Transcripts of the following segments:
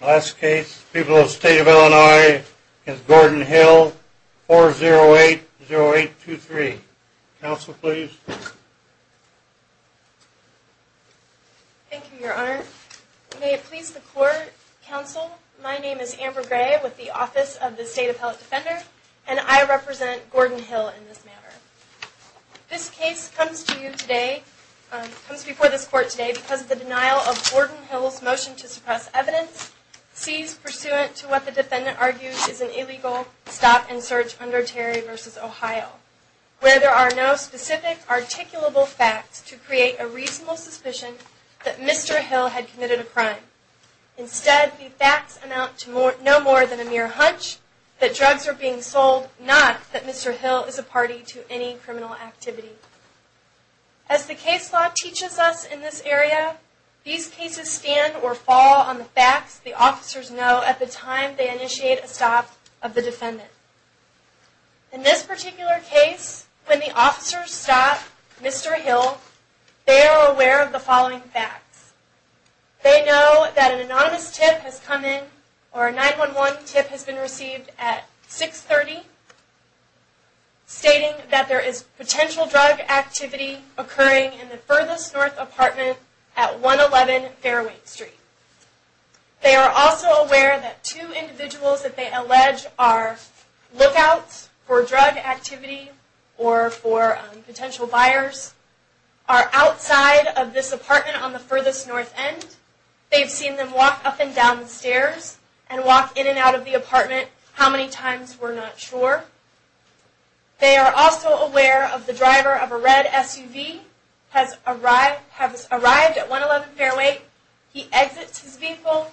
Last case, People of the State of Illinois, against Gordon Hill, 4080823. Counsel, please. Thank you, Your Honor. May it please the Court, Counsel, my name is Amber Gray with the Office of the State Appellate Defender, and I represent Gordon Hill in this matter. This case comes to you today, comes before this Court today because of the denial of Gordon Hill's motion to suppress evidence, seized pursuant to what the defendant argues is an illegal stop and search under Terry v. Ohio, where there are no specific articulable facts to create a reasonable suspicion that Mr. Hill had committed a crime. Instead, the facts amount to no more than a mere hunch that drugs are being sold, not that Mr. Hill is a party to any criminal activity. As the case law teaches us in this area, these cases stand or fall on the facts the officers know at the time they initiate a stop of the defendant. In this particular case, when the officers stop Mr. Hill, they are aware of the following facts. They know that an anonymous tip has come in, or a 911 tip has been received at 630 stating that there is potential drug activity occurring in the furthest north apartment at 111 Fairway Street. They are also aware that two individuals that they allege are lookouts for drug activity or for potential buyers are outside of this apartment on the furthest north end. They've seen them walk up and down the stairs and walk in and out of the apartment how many times, we're not sure. They are also aware of the driver of a red SUV has arrived at 111 Fairway. He exits his vehicle,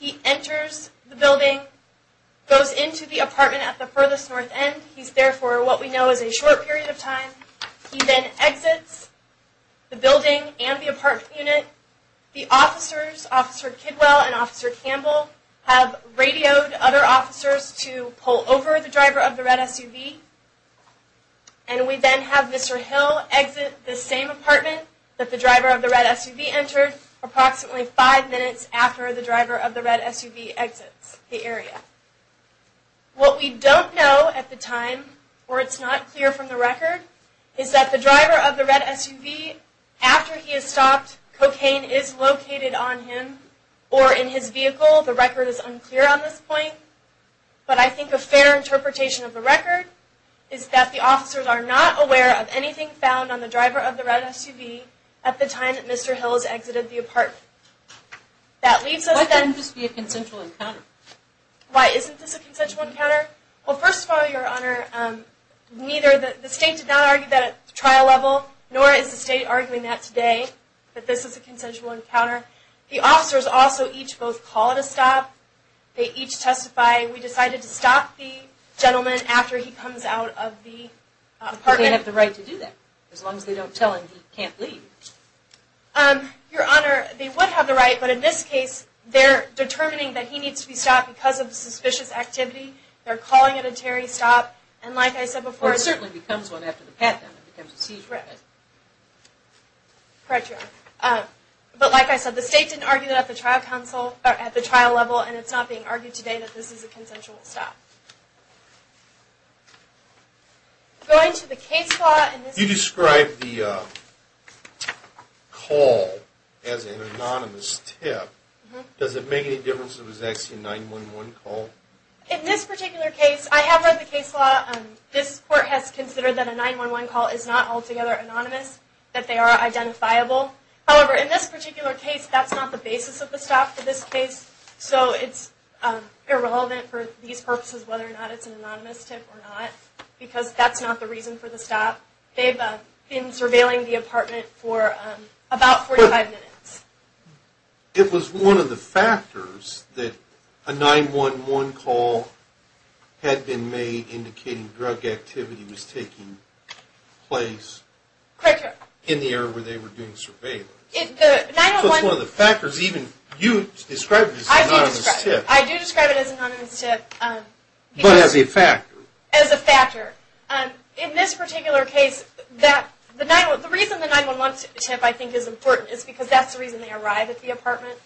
he enters the building, goes into the apartment at the furthest north end. He's there for what we know is a short period of time. He then exits the building and the apartment unit. The officers, Officer Kidwell and Officer Campbell, have radioed other officers to pull over the driver of the red SUV. And we then have Mr. Hill exit the same apartment that the driver of the red SUV entered approximately five minutes after the driver of the red SUV exits the area. What we don't know at the time, or it's not clear from the record, is that the driver of the red SUV, after he has stopped, cocaine is located on him or in his vehicle. The record is unclear on this point. But I think a fair interpretation of the record is that the officers are not aware of anything found on the driver of the red SUV at the time that Mr. Hill has exited the apartment. Why can't this be a consensual encounter? Why isn't this a consensual encounter? Well, first of all, Your Honor, the state did not argue that at the trial level, nor is the state arguing that today. But this is a consensual encounter. The officers also each both call it a stop. They each testify, we decided to stop the gentleman after he comes out of the apartment. But they have the right to do that, as long as they don't tell him he can't leave. Your Honor, they would have the right. But in this case, they're determining that he needs to be stopped because of the suspicious activity. They're calling it a Terry stop. And like I said before... Or it certainly becomes one after the pat down. It becomes a seizure. Correct, Your Honor. But like I said, the state didn't argue that at the trial level. And it's not being argued today that this is a consensual stop. Going to the case law... You described the call as an anonymous tip. Does it make any difference if it was actually a 911 call? In this particular case, I have read the case law. This court has considered that a 911 call is not altogether anonymous. That they are identifiable. However, in this particular case, that's not the basis of the stop for this case. So it's irrelevant for these purposes, whether or not it's an anonymous tip or not. Because that's not the reason for the stop. They've been surveilling the apartment for about 45 minutes. It was one of the factors that a 911 call had been made, indicating drug activity was taking place in the area where they were doing surveillance. So it's one of the factors. Even you described it as an anonymous tip. I do describe it as an anonymous tip. But as a factor. As a factor. In this particular case, the reason the 911 tip I think is important is because that's the reason they arrived at the apartment.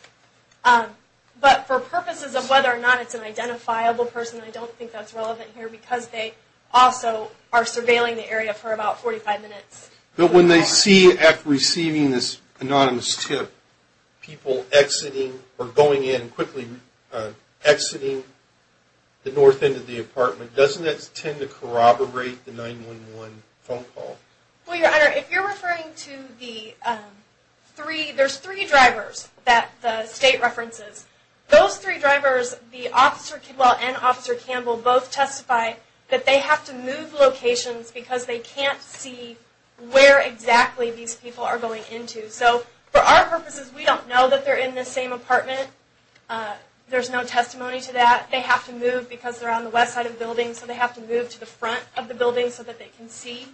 But for purposes of whether or not it's an identifiable person, I don't think that's relevant here. Because they also are surveilling the area for about 45 minutes. But when they see, after receiving this anonymous tip, people exiting or going in quickly, exiting the north end of the apartment, doesn't that tend to corroborate the 911 phone call? Well, Your Honor, if you're referring to the three, there's three drivers that the state references. Those three drivers, the officer, well, and Officer Campbell both testify that they have to move locations because they can't see where exactly these people are going into. So for our purposes, we don't know that they're in the same apartment. There's no testimony to that. They have to move because they're on the west side of the building. So they have to move to the front of the building so that they can see.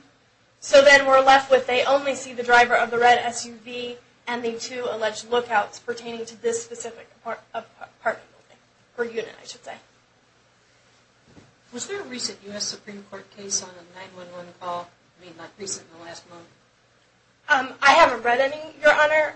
So then we're left with they only see the driver of the red SUV and the two alleged lookouts pertaining to this specific apartment building or unit, I should say. Was there a recent U.S. Supreme Court case on a 911 call? I mean, not recent, the last one. I haven't read any, Your Honor.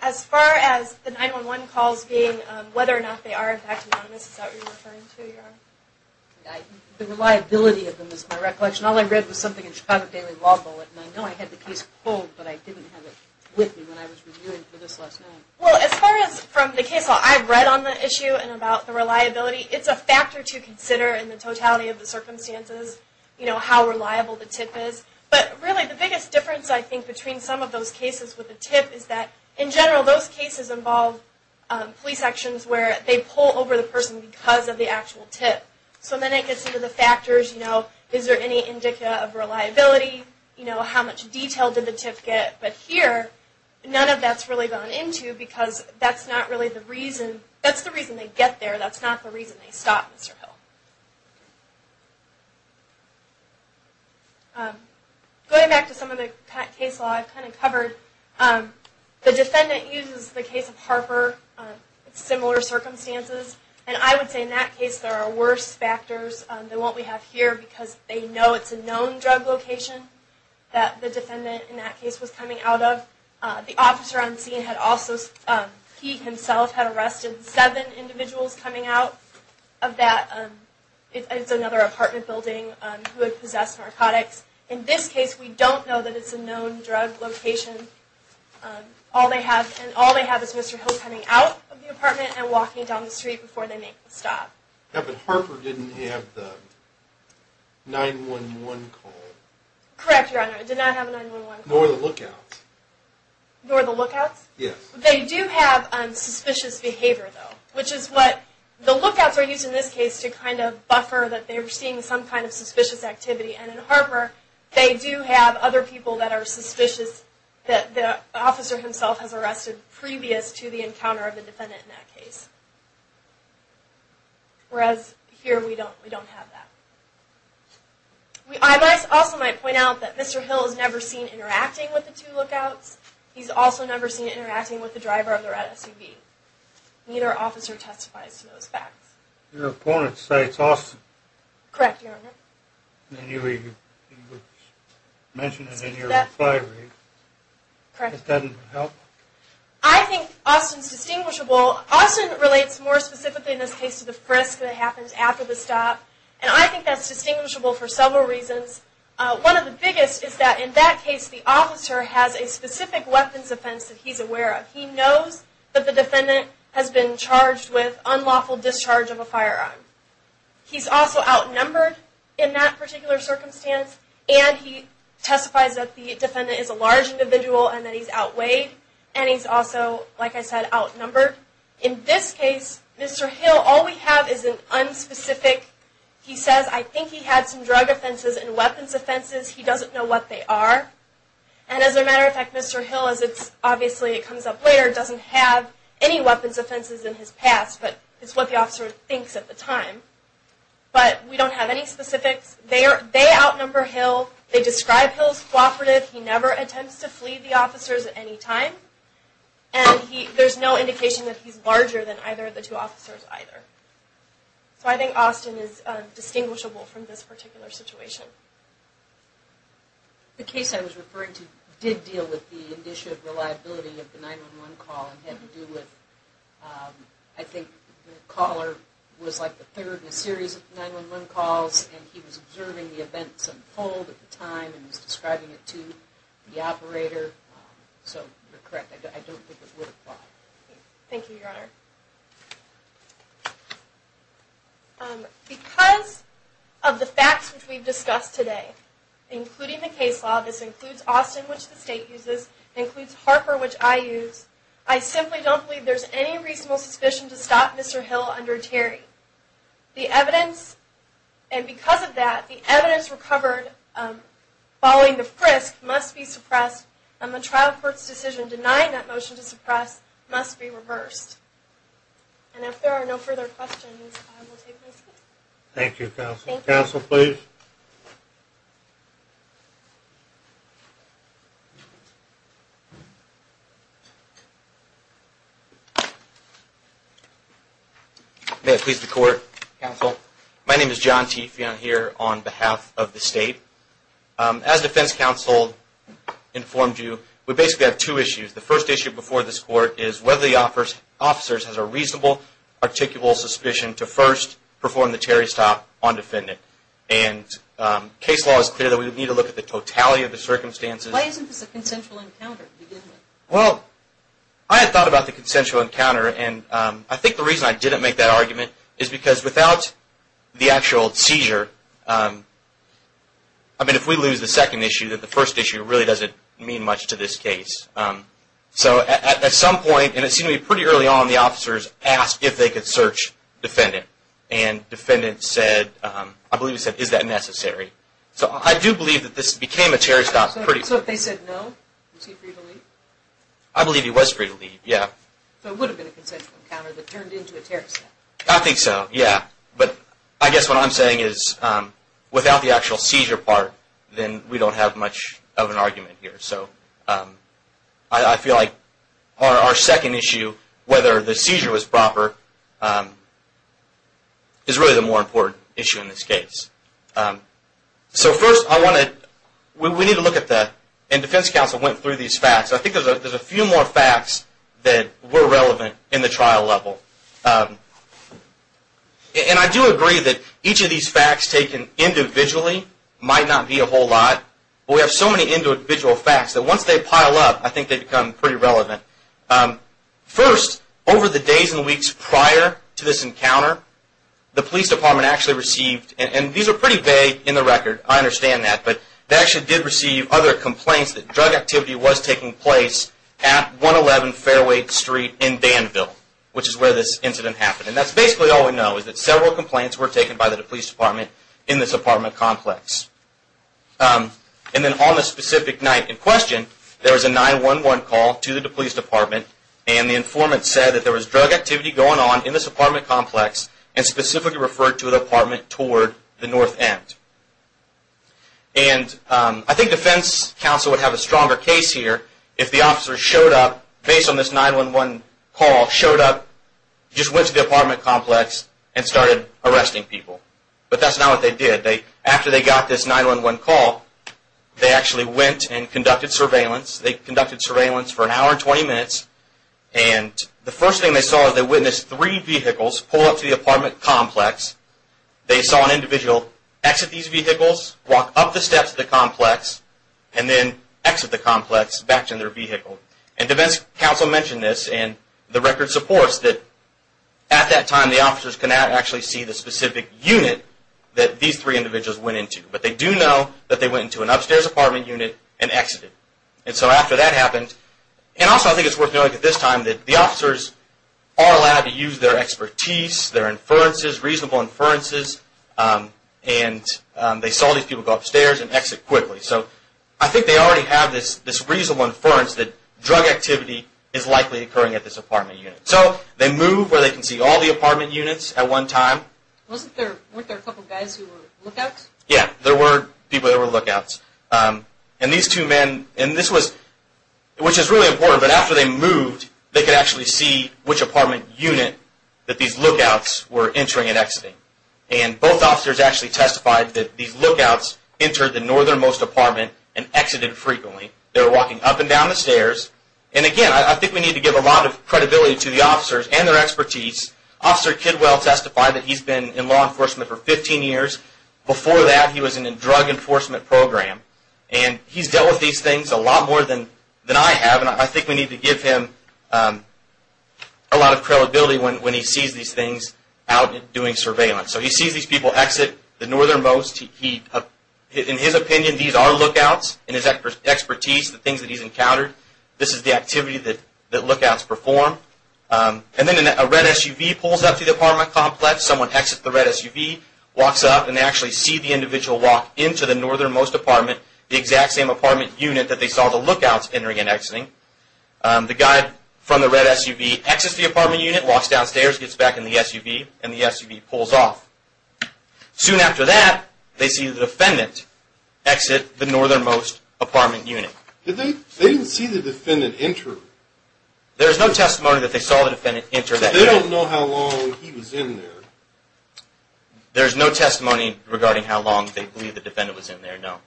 As far as the 911 calls being, whether or not they are in fact anonymous, is that what you're referring to, Your Honor? The reliability of them is my recollection. All I read was something in the Chicago Daily Law Bulletin. I know I had the case pulled, but I didn't have it with me when I was reviewing for this last night. Well, as far as from the case law, I've read on the issue and about the reliability. It's a factor to consider in the totality of the circumstances, you know, how reliable the tip is. But really the biggest difference, I think, between some of those cases with the tip is that in general those cases involve police actions where they pull over the person because of the actual tip. So then it gets into the factors, you know, is there any indica of reliability? You know, how much detail did the tip get? But here, none of that's really gone into because that's not really the reason. They get there, that's not the reason they stop Mr. Hill. Going back to some of the case law I've kind of covered, the defendant uses the case of Harper, similar circumstances, and I would say in that case there are worse factors than what we have here because they know it's a known drug location that the defendant in that case was coming out of. The officer on scene had also, he himself had arrested seven individuals coming out of that, it's another apartment building, who had possessed narcotics. In this case we don't know that it's a known drug location. All they have is Mr. Hill coming out of the apartment and walking down the street before they make the stop. Yeah, but Harper didn't have the 911 call. Correct, Your Honor, it did not have a 911 call. Nor the lookouts. Nor the lookouts? Yes. They do have suspicious behavior though, which is what the lookouts are used in this case to kind of buffer that they're seeing some kind of suspicious activity, and in Harper they do have other people that are suspicious that the officer himself has arrested previous to the encounter of the defendant in that case. Whereas here we don't have that. I also might point out that Mr. Hill is never seen interacting with the two lookouts. He's also never seen interacting with the driver of the red SUV. Neither officer testifies to those facts. Your opponent cites Austin. Correct, Your Honor. And you mentioned it in your reply, right? Correct. It doesn't help? I think Austin's distinguishable. Austin relates more specifically in this case to the frisk that happens after the stop, and I think that's distinguishable for several reasons. One of the biggest is that in that case the officer has a specific weapons offense that he's aware of. He knows that the defendant has been charged with unlawful discharge of a firearm. He's also outnumbered in that particular circumstance, and he testifies that the defendant is a large individual and that he's outweighed, and he's also, like I said, outnumbered. In this case, Mr. Hill, all we have is an unspecific, he says, I think he had some drug offenses and weapons offenses. He doesn't know what they are. And as a matter of fact, Mr. Hill, as obviously it comes up later, doesn't have any weapons offenses in his past, but it's what the officer thinks at the time. But we don't have any specifics. They outnumber Hill. They describe Hill as cooperative. He never attempts to flee the officers at any time. And there's no indication that he's larger than either of the two officers either. So I think Austin is distinguishable from this particular situation. The case I was referring to did deal with the issue of reliability of the 9-1-1 call and had to do with, I think the caller was like the third in a series of 9-1-1 calls, and he was observing the events unfold at the time and was describing it to the operator. So you're correct. I don't think it would apply. Thank you, Your Honor. Because of the facts which we've discussed today, including the case law, this includes Austin, which the State uses, it includes Harper, which I use, I simply don't believe there's any reasonable suspicion to stop Mr. Hill under Terry. The evidence, and because of that, the evidence recovered following the frisk must be suppressed, and the trial court's decision denying that motion to suppress must be reversed. And if there are no further questions, I will take those. Thank you, counsel. Counsel, please. Thank you, Mr. Court, counsel. My name is John T. Fionn here on behalf of the State. As defense counsel informed you, we basically have two issues. The first issue before this court is whether the officer has a reasonable, articulable suspicion to first perform the Terry stop on defendant. And case law is clear that we would need to look at the totality of the circumstances. Why isn't this a consensual encounter? Well, I had thought about the consensual encounter, and I think the reason I didn't make that argument is because without the actual seizure, I mean, if we lose the second issue, then the first issue really doesn't mean much to this case. So at some point, and it seemed to me pretty early on, the officers asked if they could search defendant, and defendant said, I believe he said, is that necessary? So I do believe that this became a Terry stop. So if they said no, was he free to leave? I believe he was free to leave, yeah. So it would have been a consensual encounter that turned into a Terry stop. I think so, yeah. But I guess what I'm saying is without the actual seizure part, then we don't have much of an argument here. So I feel like our second issue, whether the seizure was proper, is really the more important issue in this case. So first, we need to look at that. And defense counsel went through these facts. I think there's a few more facts that were relevant in the trial level. And I do agree that each of these facts taken individually might not be a whole lot, but we have so many individual facts that once they pile up, I think they become pretty relevant. First, over the days and weeks prior to this encounter, the police department actually received, and these are pretty vague in the record, I understand that, but they actually did receive other complaints that drug activity was taking place at 111 Fairway Street in Danville, which is where this incident happened. And that's basically all we know, is that several complaints were taken by the police department in this apartment complex. And then on the specific night in question, there was a 911 call to the police department, and the informant said that there was drug activity going on in this apartment complex and specifically referred to an apartment toward the north end. And I think defense counsel would have a stronger case here if the officer showed up, based on this 911 call, showed up, just went to the apartment complex, and started arresting people. But that's not what they did. After they got this 911 call, they actually went and conducted surveillance. They conducted surveillance for an hour and 20 minutes, and the first thing they saw is they witnessed three vehicles pull up to the apartment complex. They saw an individual exit these vehicles, walk up the steps of the complex, and then exit the complex back to their vehicle. And defense counsel mentioned this, and the record supports that at that time, the officers could not actually see the specific unit that these three individuals went into. But they do know that they went into an upstairs apartment unit and exited. And so after that happened, and also I think it's worth noting at this time, that the officers are allowed to use their expertise, their inferences, reasonable inferences, and they saw these people go upstairs and exit quickly. So I think they already have this reasonable inference that drug activity is likely occurring at this apartment unit. So they move where they can see all the apartment units at one time. Weren't there a couple guys who were lookouts? Yeah, there were people that were lookouts. And these two men, and this was, which is really important, but after they moved, they could actually see which apartment unit that these lookouts were entering and exiting. And both officers actually testified that these lookouts entered the northernmost apartment and exited frequently. They were walking up and down the stairs. And again, I think we need to give a lot of credibility to the officers and their expertise. Officer Kidwell testified that he's been in law enforcement for 15 years. Before that, he was in a drug enforcement program. And he's dealt with these things a lot more than I have, and I think we need to give him a lot of credibility when he sees these things out doing surveillance. So he sees these people exit the northernmost. In his opinion, these are lookouts in his expertise, the things that he's encountered. This is the activity that lookouts perform. And then a red SUV pulls up to the apartment complex. Someone exits the red SUV, walks up, and they actually see the individual walk into the northernmost apartment, the exact same apartment unit that they saw the lookouts entering and exiting. The guy from the red SUV exits the apartment unit, walks downstairs, gets back in the SUV, and the SUV pulls off. Soon after that, they see the defendant exit the northernmost apartment unit. They didn't see the defendant enter. There is no testimony that they saw the defendant enter that unit. I don't know how long he was in there. There's no testimony regarding how long they believe the defendant was in there, no.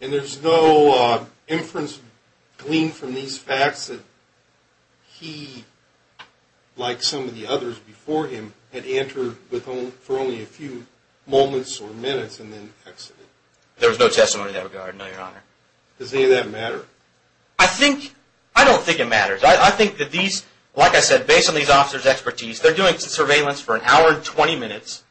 And there's no inference gleaned from these facts that he, like some of the others before him, had entered for only a few moments or minutes and then exited. There was no testimony in that regard, no, Your Honor. Does any of that matter? I don't think it matters. I think that these, like I said, based on these officers' expertise, they're doing surveillance for an hour and 20 minutes,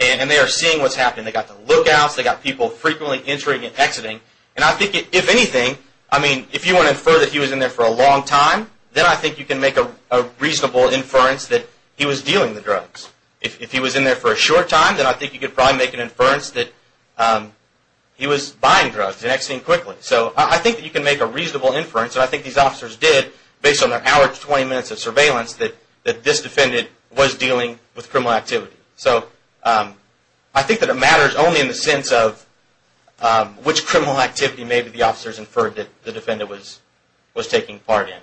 and they are seeing what's happening. They've got the lookouts. They've got people frequently entering and exiting. And I think, if anything, I mean, if you want to infer that he was in there for a long time, then I think you can make a reasonable inference that he was dealing the drugs. If he was in there for a short time, then I think you could probably make an inference that he was buying drugs and exiting quickly. So I think that you can make a reasonable inference, and I think these officers did, based on their hour to 20 minutes of surveillance, that this defendant was dealing with criminal activity. So I think that it matters only in the sense of which criminal activity maybe the officers inferred that the defendant was taking part in.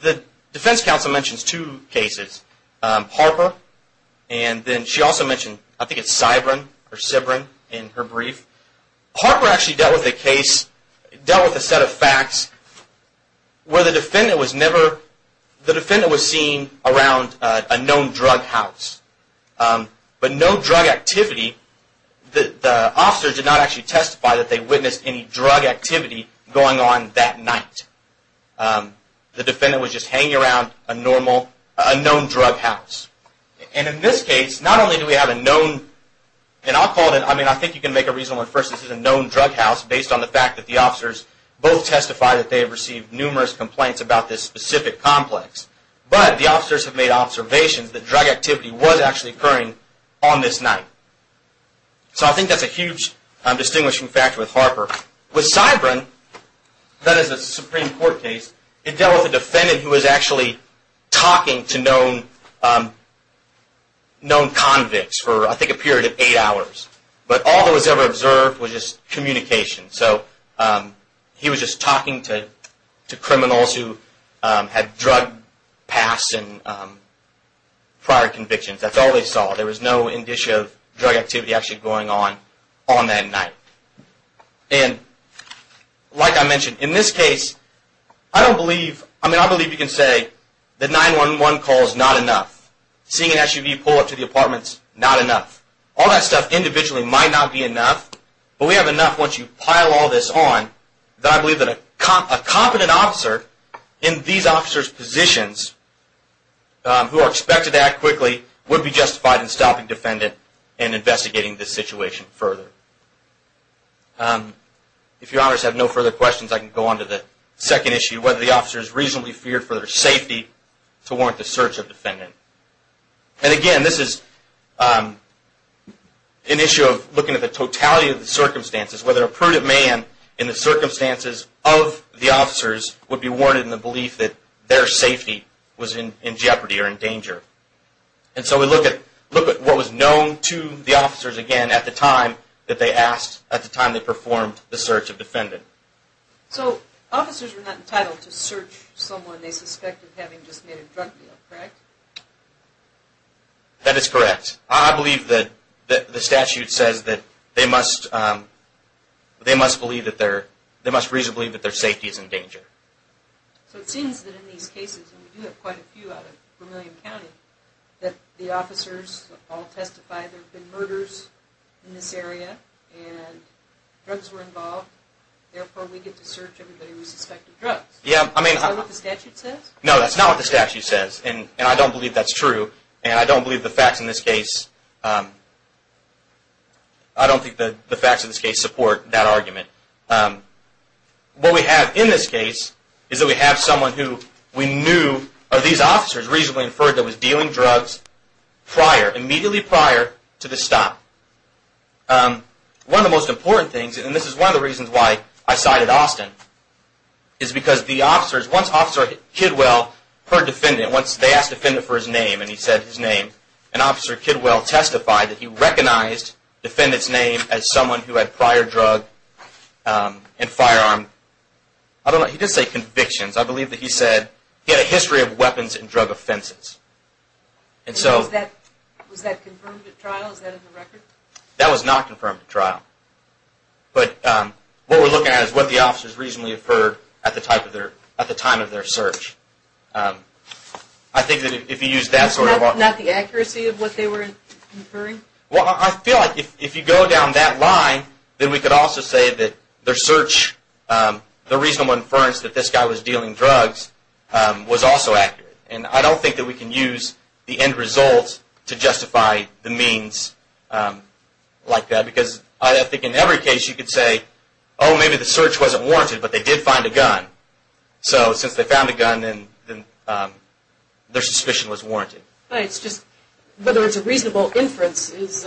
The defense counsel mentions two cases. Harper, and then she also mentioned, I think it's Sybrin in her brief. Harper actually dealt with a case, dealt with a set of facts, where the defendant was never, the defendant was seen around a known drug house. But no drug activity, the officers did not actually testify that they witnessed any drug activity going on that night. The defendant was just hanging around a known drug house. And in this case, not only do we have a known, and I'll call it, I mean, I think you can make a reasonable inference this is a known drug house, based on the fact that the officers both testified that they have received numerous complaints about this specific complex. But the officers have made observations that drug activity was actually occurring on this night. So I think that's a huge distinguishing factor with Harper. With Sybrin, that is a Supreme Court case, it dealt with a defendant who was actually talking to known convicts for, I think, a period of eight hours. But all that was ever observed was just communication. So he was just talking to criminals who had drug pasts and prior convictions, that's all they saw. There was no indicia of drug activity actually going on, on that night. And, like I mentioned, in this case, I don't believe, I mean, I believe you can say the 911 call is not enough. Seeing an SUV pull up to the apartment is not enough. All that stuff individually might not be enough, but we have enough once you pile all this on, that I believe that a competent officer in these officers' positions, who are expected to act quickly, would be justified in stopping the defendant and investigating this situation further. If your honors have no further questions, I can go on to the second issue, whether the officer is reasonably feared for their safety to warrant the search of the defendant. And, again, this is an issue of looking at the totality of the circumstances, whether a prudent man in the circumstances of the officers would be warranted in the belief that their safety was in jeopardy or in danger. And so we look at what was known to the officers, again, at the time that they asked, at the time they performed the search of the defendant. So, officers were not entitled to search someone they suspected having just made a drug deal, correct? That is correct. I believe that the statute says that they must believe that their, they must reasonably believe that their safety is in danger. So it seems that in these cases, and we do have quite a few out of Vermilion County, that the officers all testify there have been murders in this area, and drugs were involved, therefore we get to search everybody we suspect of drugs. Is that what the statute says? No, that's not what the statute says, and I don't believe that's true, and I don't believe the facts in this case, I don't think the facts in this case support that argument. What we have in this case is that we have someone who we knew of these officers reasonably inferred that was dealing drugs prior, immediately prior to the stop. One of the most important things, and this is one of the reasons why I cited Austin, is because the officers, once Officer Kidwell heard defendant, once they asked defendant for his name and he said his name, and Officer Kidwell testified that he recognized defendant's name as someone who had prior drug and firearm, I don't know, he did say convictions, I believe that he said he had a history of weapons and drug offenses. Was that confirmed at trial? Is that in the record? That was not confirmed at trial, but what we're looking at is what the officers reasonably inferred at the time of their search. I think that if you use that sort of... Not the accuracy of what they were inferring? Well, I feel like if you go down that line, then we could also say that their search, the reasonable inference that this guy was dealing drugs was also accurate, and I don't think that we can use the end result to justify the means like that, because I think in every case you could say, oh, maybe the search wasn't warranted, but they did find a gun. So, since they found a gun, then their suspicion was warranted. But it's just, whether it's a reasonable inference is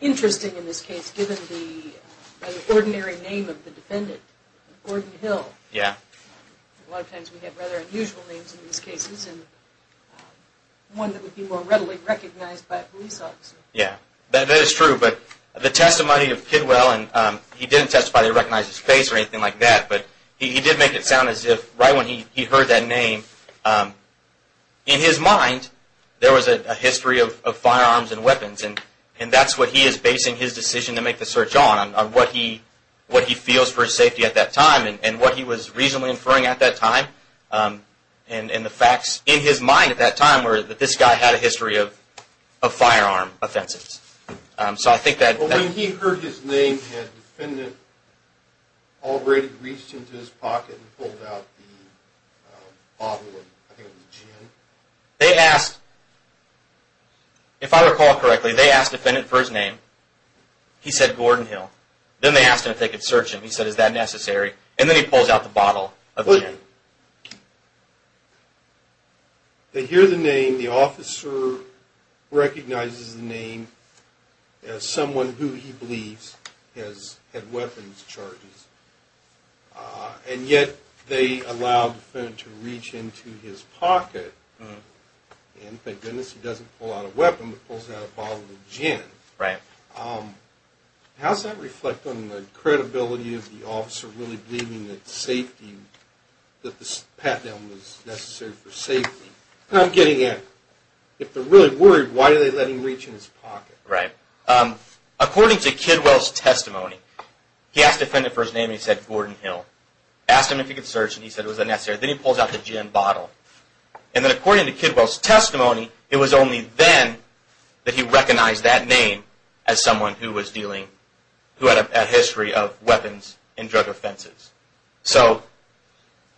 interesting in this case, given the ordinary name of the defendant, Gordon Hill. Yeah. A lot of times we have rather unusual names in these cases, and one that would be more readily recognized by a police officer. Yeah, that is true, but the testimony of Kidwell, and he didn't testify that he recognized his face or anything like that, but he did make it sound as if right when he heard that name, in his mind there was a history of firearms and weapons, and that's what he is basing his decision to make the search on, on what he feels for his safety at that time, and what he was reasonably inferring at that time, and the facts in his mind at that time were that this guy had a history of a firearm, so I think that... But when he heard his name, had the defendant already reached into his pocket and pulled out the bottle of, I think it was gin? They asked, if I recall correctly, they asked the defendant for his name, he said Gordon Hill, then they asked him if they could search him, he said is that necessary, and then he pulls out the bottle of gin. Right. They hear the name, the officer recognizes the name as someone who he believes has had weapons charges, and yet they allow the defendant to reach into his pocket, and thank goodness he doesn't pull out a weapon, but pulls out a bottle of gin. Right. How does that reflect on the credibility of the officer really believing that safety, that this pat down was necessary for safety? I'm getting at, if they're really worried, why do they let him reach into his pocket? Right. According to Kidwell's testimony, he asked the defendant for his name, he said Gordon Hill, asked him if he could search him, he said is that necessary, then he pulls out the gin bottle, and then according to Kidwell's testimony, it was only then that he recognized that name as someone who was dealing, who had a history of weapons and drug offenses. So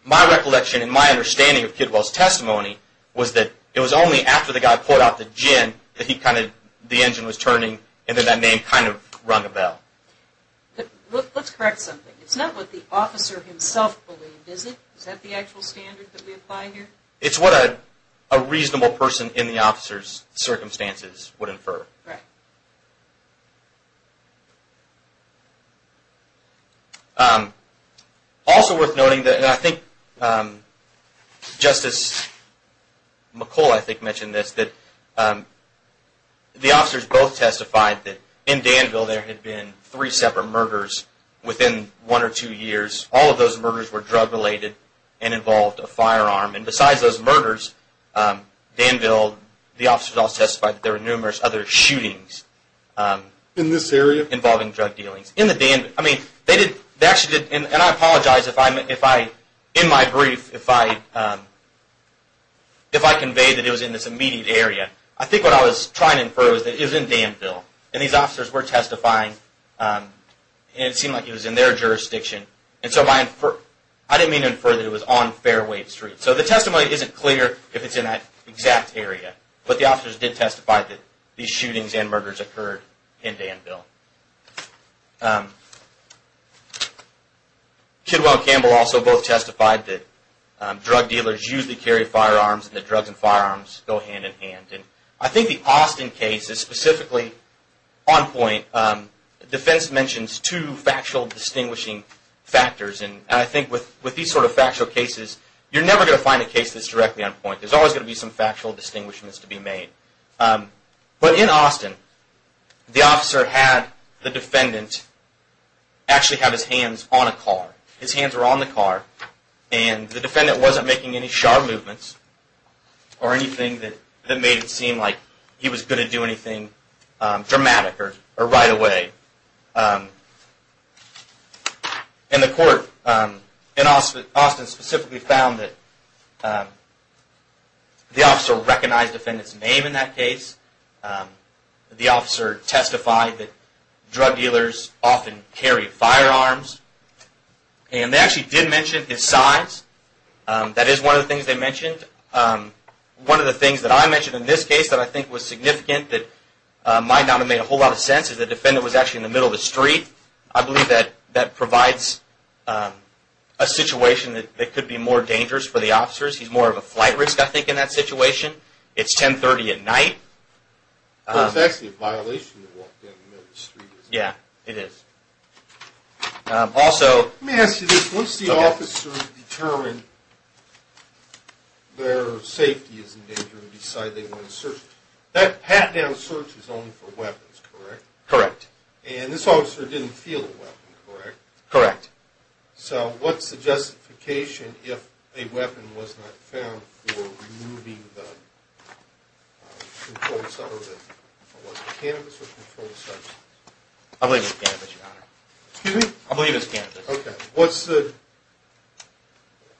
my recollection and my understanding of Kidwell's testimony was that it was only after the guy pulled out the gin that he kind of, the engine was turning, and then that name kind of rung a bell. Let's correct something. It's not what the officer himself believed, is it? Is that the actual standard that we apply here? It's what a reasonable person in the officer's circumstances would infer. Right. Also worth noting that, and I think Justice McCullough I think mentioned this, that the officers both testified that in Danville there had been three separate murders within one or two years. All of those murders were drug related and involved a firearm, and besides those murders, Danville, the officers all testified that there were numerous other shootings. In this area? Involving drug dealings. In the Danville. I mean, they actually did, and I apologize if I, in my brief, if I conveyed that it was in this immediate area. I think what I was trying to infer was that it was in Danville, and these officers were testifying, and it seemed like it was in their jurisdiction, and so I didn't mean to infer that it was on Fairway Street. So the testimony isn't clear if it's in that exact area, but the officers did testify that these shootings and murders occurred in Danville. Kidwell and Campbell also both testified that drug dealers usually carry firearms, and that drugs and firearms go hand in hand. I think the Austin case is specifically on point. Defense mentions two factual distinguishing factors, and I think with these sort of factual cases, you're never going to find a case that's directly on point. There's always going to be some factual distinguishments to be made. But in Austin, the officer had the defendant actually have his hands on a car. His hands were on the car, and the defendant wasn't making any sharp movements or anything that made it seem like he was going to do anything dramatic or right away. And the court in Austin specifically found that the officer recognized the defendant's name in that case. The officer testified that drug dealers often carry firearms. And they actually did mention his size. That is one of the things they mentioned. One of the things that I mentioned in this case that I think was significant that might not have made a whole lot of sense is the defendant was actually in the middle of the street. I believe that that provides a situation that could be more dangerous for the officers. He's more of a flight risk, I think, in that situation. It's 1030 at night. Well, it's actually a violation to walk down the middle of the street, isn't it? Yeah, it is. Let me ask you this. Once the officers determine their safety is in danger and decide they want to search, that pat-down search is only for weapons, correct? Correct. And this officer didn't feel a weapon, correct? Correct. So what's the justification if a weapon was not found for removing the cannabis or controlled substance? I believe it's cannabis, Your Honor. Excuse me? I believe it's cannabis. Okay.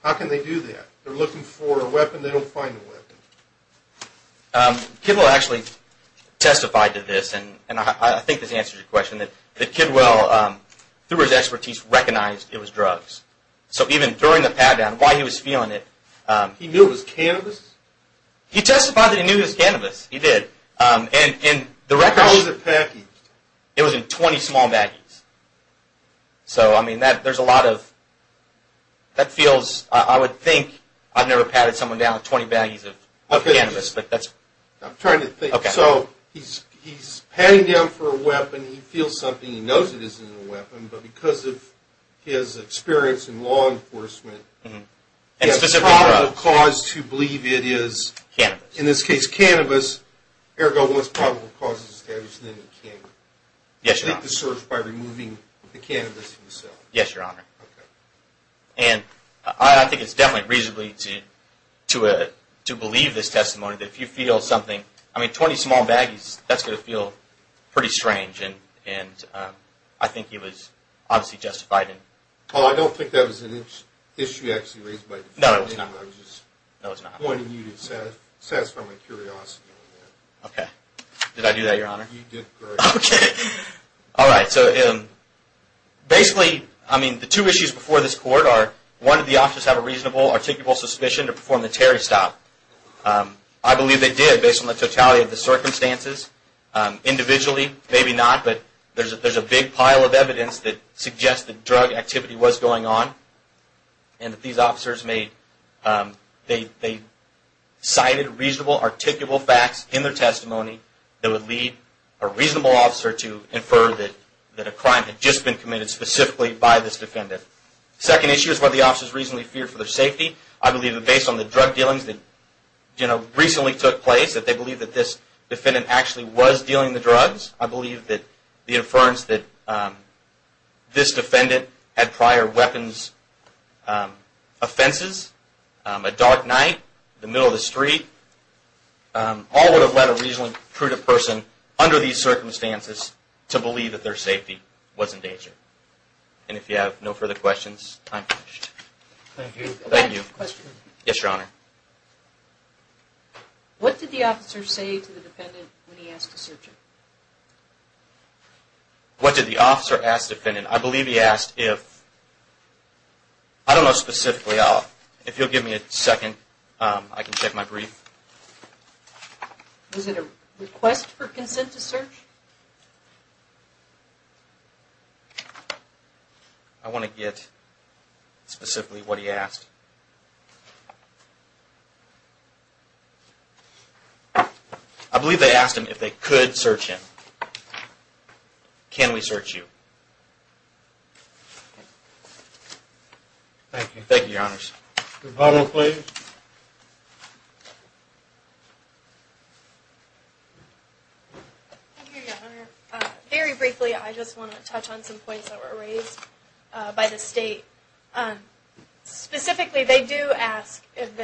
How can they do that? They're looking for a weapon. They don't find a weapon. Kidwell actually testified to this, and I think this answers your question, that Kidwell, through his expertise, recognized it was drugs. So even during the pat-down, while he was feeling it… He knew it was cannabis? He testified that he knew it was cannabis. He did. How was it packaged? It was in 20 small baggies. So, I mean, there's a lot of… That feels… I would think I've never patted someone down with 20 baggies of cannabis, but that's… I'm trying to think. Okay. So he's patting down for a weapon. He feels something. He knows it isn't a weapon, but because of his experience in law enforcement… And specifically drugs. …he has probable cause to believe it is… Cannabis. In this case, cannabis. Ergo, once probable cause is established, then he can… Yes, Your Honor. …complete the search by removing the cannabis himself. Yes, Your Honor. Okay. And I think it's definitely reasonable to believe this testimony, that if you feel something… I mean, 20 small baggies, that's going to feel pretty strange, and I think he was obviously justified in… Paul, I don't think that was an issue actually raised by the defendant. No, it was not. No, it was not. I just wanted you to satisfy my curiosity on that. Okay. Did I do that, Your Honor? You did great. Okay. All right. So basically, I mean, the two issues before this court are, one, did the officers have a reasonable, articulable suspicion to perform the Terry stop? I believe they did, based on the totality of the circumstances. Individually, maybe not, but there's a big pile of evidence that suggests that drug activity was going on and that these officers made… they cited reasonable, articulable facts in their testimony that would lead a reasonable officer to infer that a crime had just been committed specifically by this defendant. Second issue is whether the officers reasonably feared for their safety. I believe that based on the drug dealings that recently took place, that they believe that this defendant actually was dealing the drugs. I believe that the inference that this defendant had prior weapons offenses, a dark night in the middle of the street, all would have led a reasonably prudent person under these circumstances to believe that their safety was in danger. And if you have no further questions, time is up. Thank you. Yes, Your Honor. What did the officer say to the defendant when he asked to search him? What did the officer ask the defendant? I believe he asked if… I don't know specifically. If you'll give me a second, I can check my brief. Was it a request for consent to search? I want to get specifically what he asked. I believe they asked him if they could search him. Can we search you? Thank you. Thank you, Your Honors. Good follow-up, please. Thank you, Your Honor. Very briefly, I just want to touch on some points that were raised by the State. Specifically, they do ask if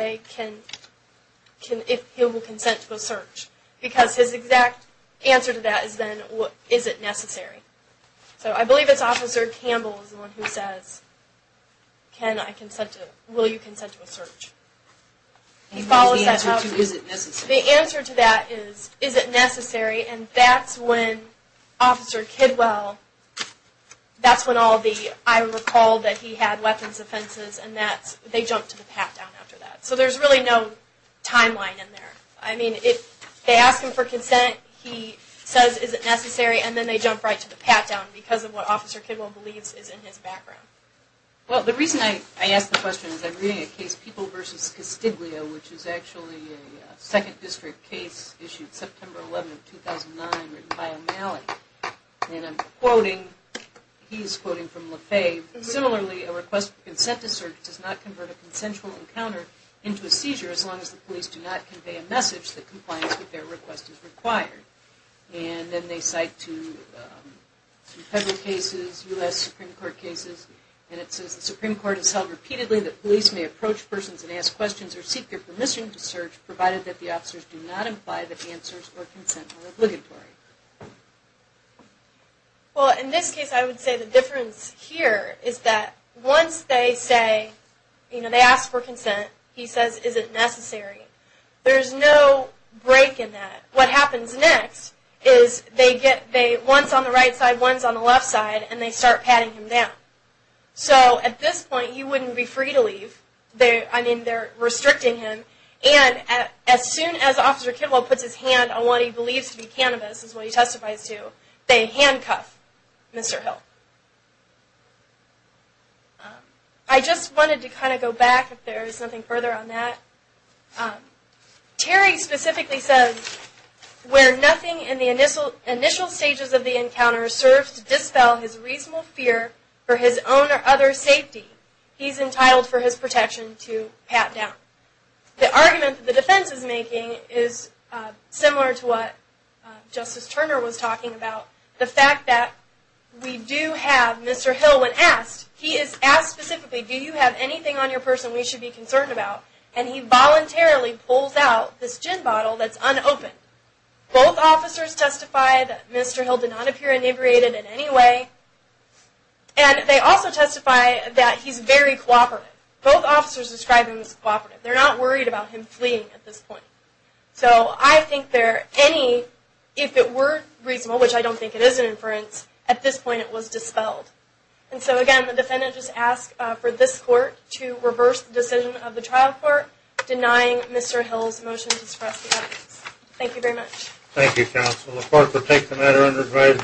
he will consent to a search because his exact answer to that is then, is it necessary? So I believe it's Officer Campbell who says, will you consent to a search? The answer to that is, is it necessary? And that's when Officer Kidwell, that's when I recall that he had weapons offenses and they jumped to the pat-down after that. So there's really no timeline in there. I mean, if they ask him for consent, he says, is it necessary? And then they jump right to the pat-down because of what Officer Kidwell believes is in his background. Well, the reason I ask the question is I'm reading a case, People v. Castiglio, which is actually a 2nd District case issued September 11, 2009, written by O'Malley. And I'm quoting, he's quoting from Le Fay. Similarly, a request for consent to search does not convert a consensual encounter into a seizure as long as the police do not convey a message that compliance with their request is required. And then they cite two federal cases, U.S. Supreme Court cases, and it says the Supreme Court has held repeatedly that police may approach persons and ask questions or seek their permission to search provided that the officers do not imply that answers or consent are obligatory. Well, in this case, I would say the difference here is that once they say, you know, they ask for consent, he says, is it necessary? There's no break in that. What happens next is they get, one's on the right side, one's on the left side, and they start patting him down. So at this point, he wouldn't be free to leave. I mean, they're restricting him. And as soon as Officer Kimball puts his hand on what he believes to be cannabis, is what he testifies to, they handcuff Mr. Hill. I just wanted to kind of go back, if there is nothing further on that. Terry specifically says, where nothing in the initial stages of the encounter serves to dispel his reasonable fear for his own or other safety, he's entitled for his protection to pat down. The argument that the defense is making is similar to what Justice Turner was talking about. The fact that we do have Mr. Hill when asked, he is asked specifically, do you have anything on your person we should be concerned about? And he voluntarily pulls out this gin bottle that's unopened. Both officers testify that Mr. Hill did not appear inebriated in any way. And they also testify that he's very cooperative. Both officers describe him as cooperative. They're not worried about him fleeing at this point. So I think there are any, if it were reasonable, which I don't think it is an inference, at this point it was dispelled. And so again, the defendant just asked for this court to reverse the decision of the trial court, denying Mr. Hill's motion to suppress the evidence. Thank you very much. Thank you, counsel. The court will take the matter under its rights.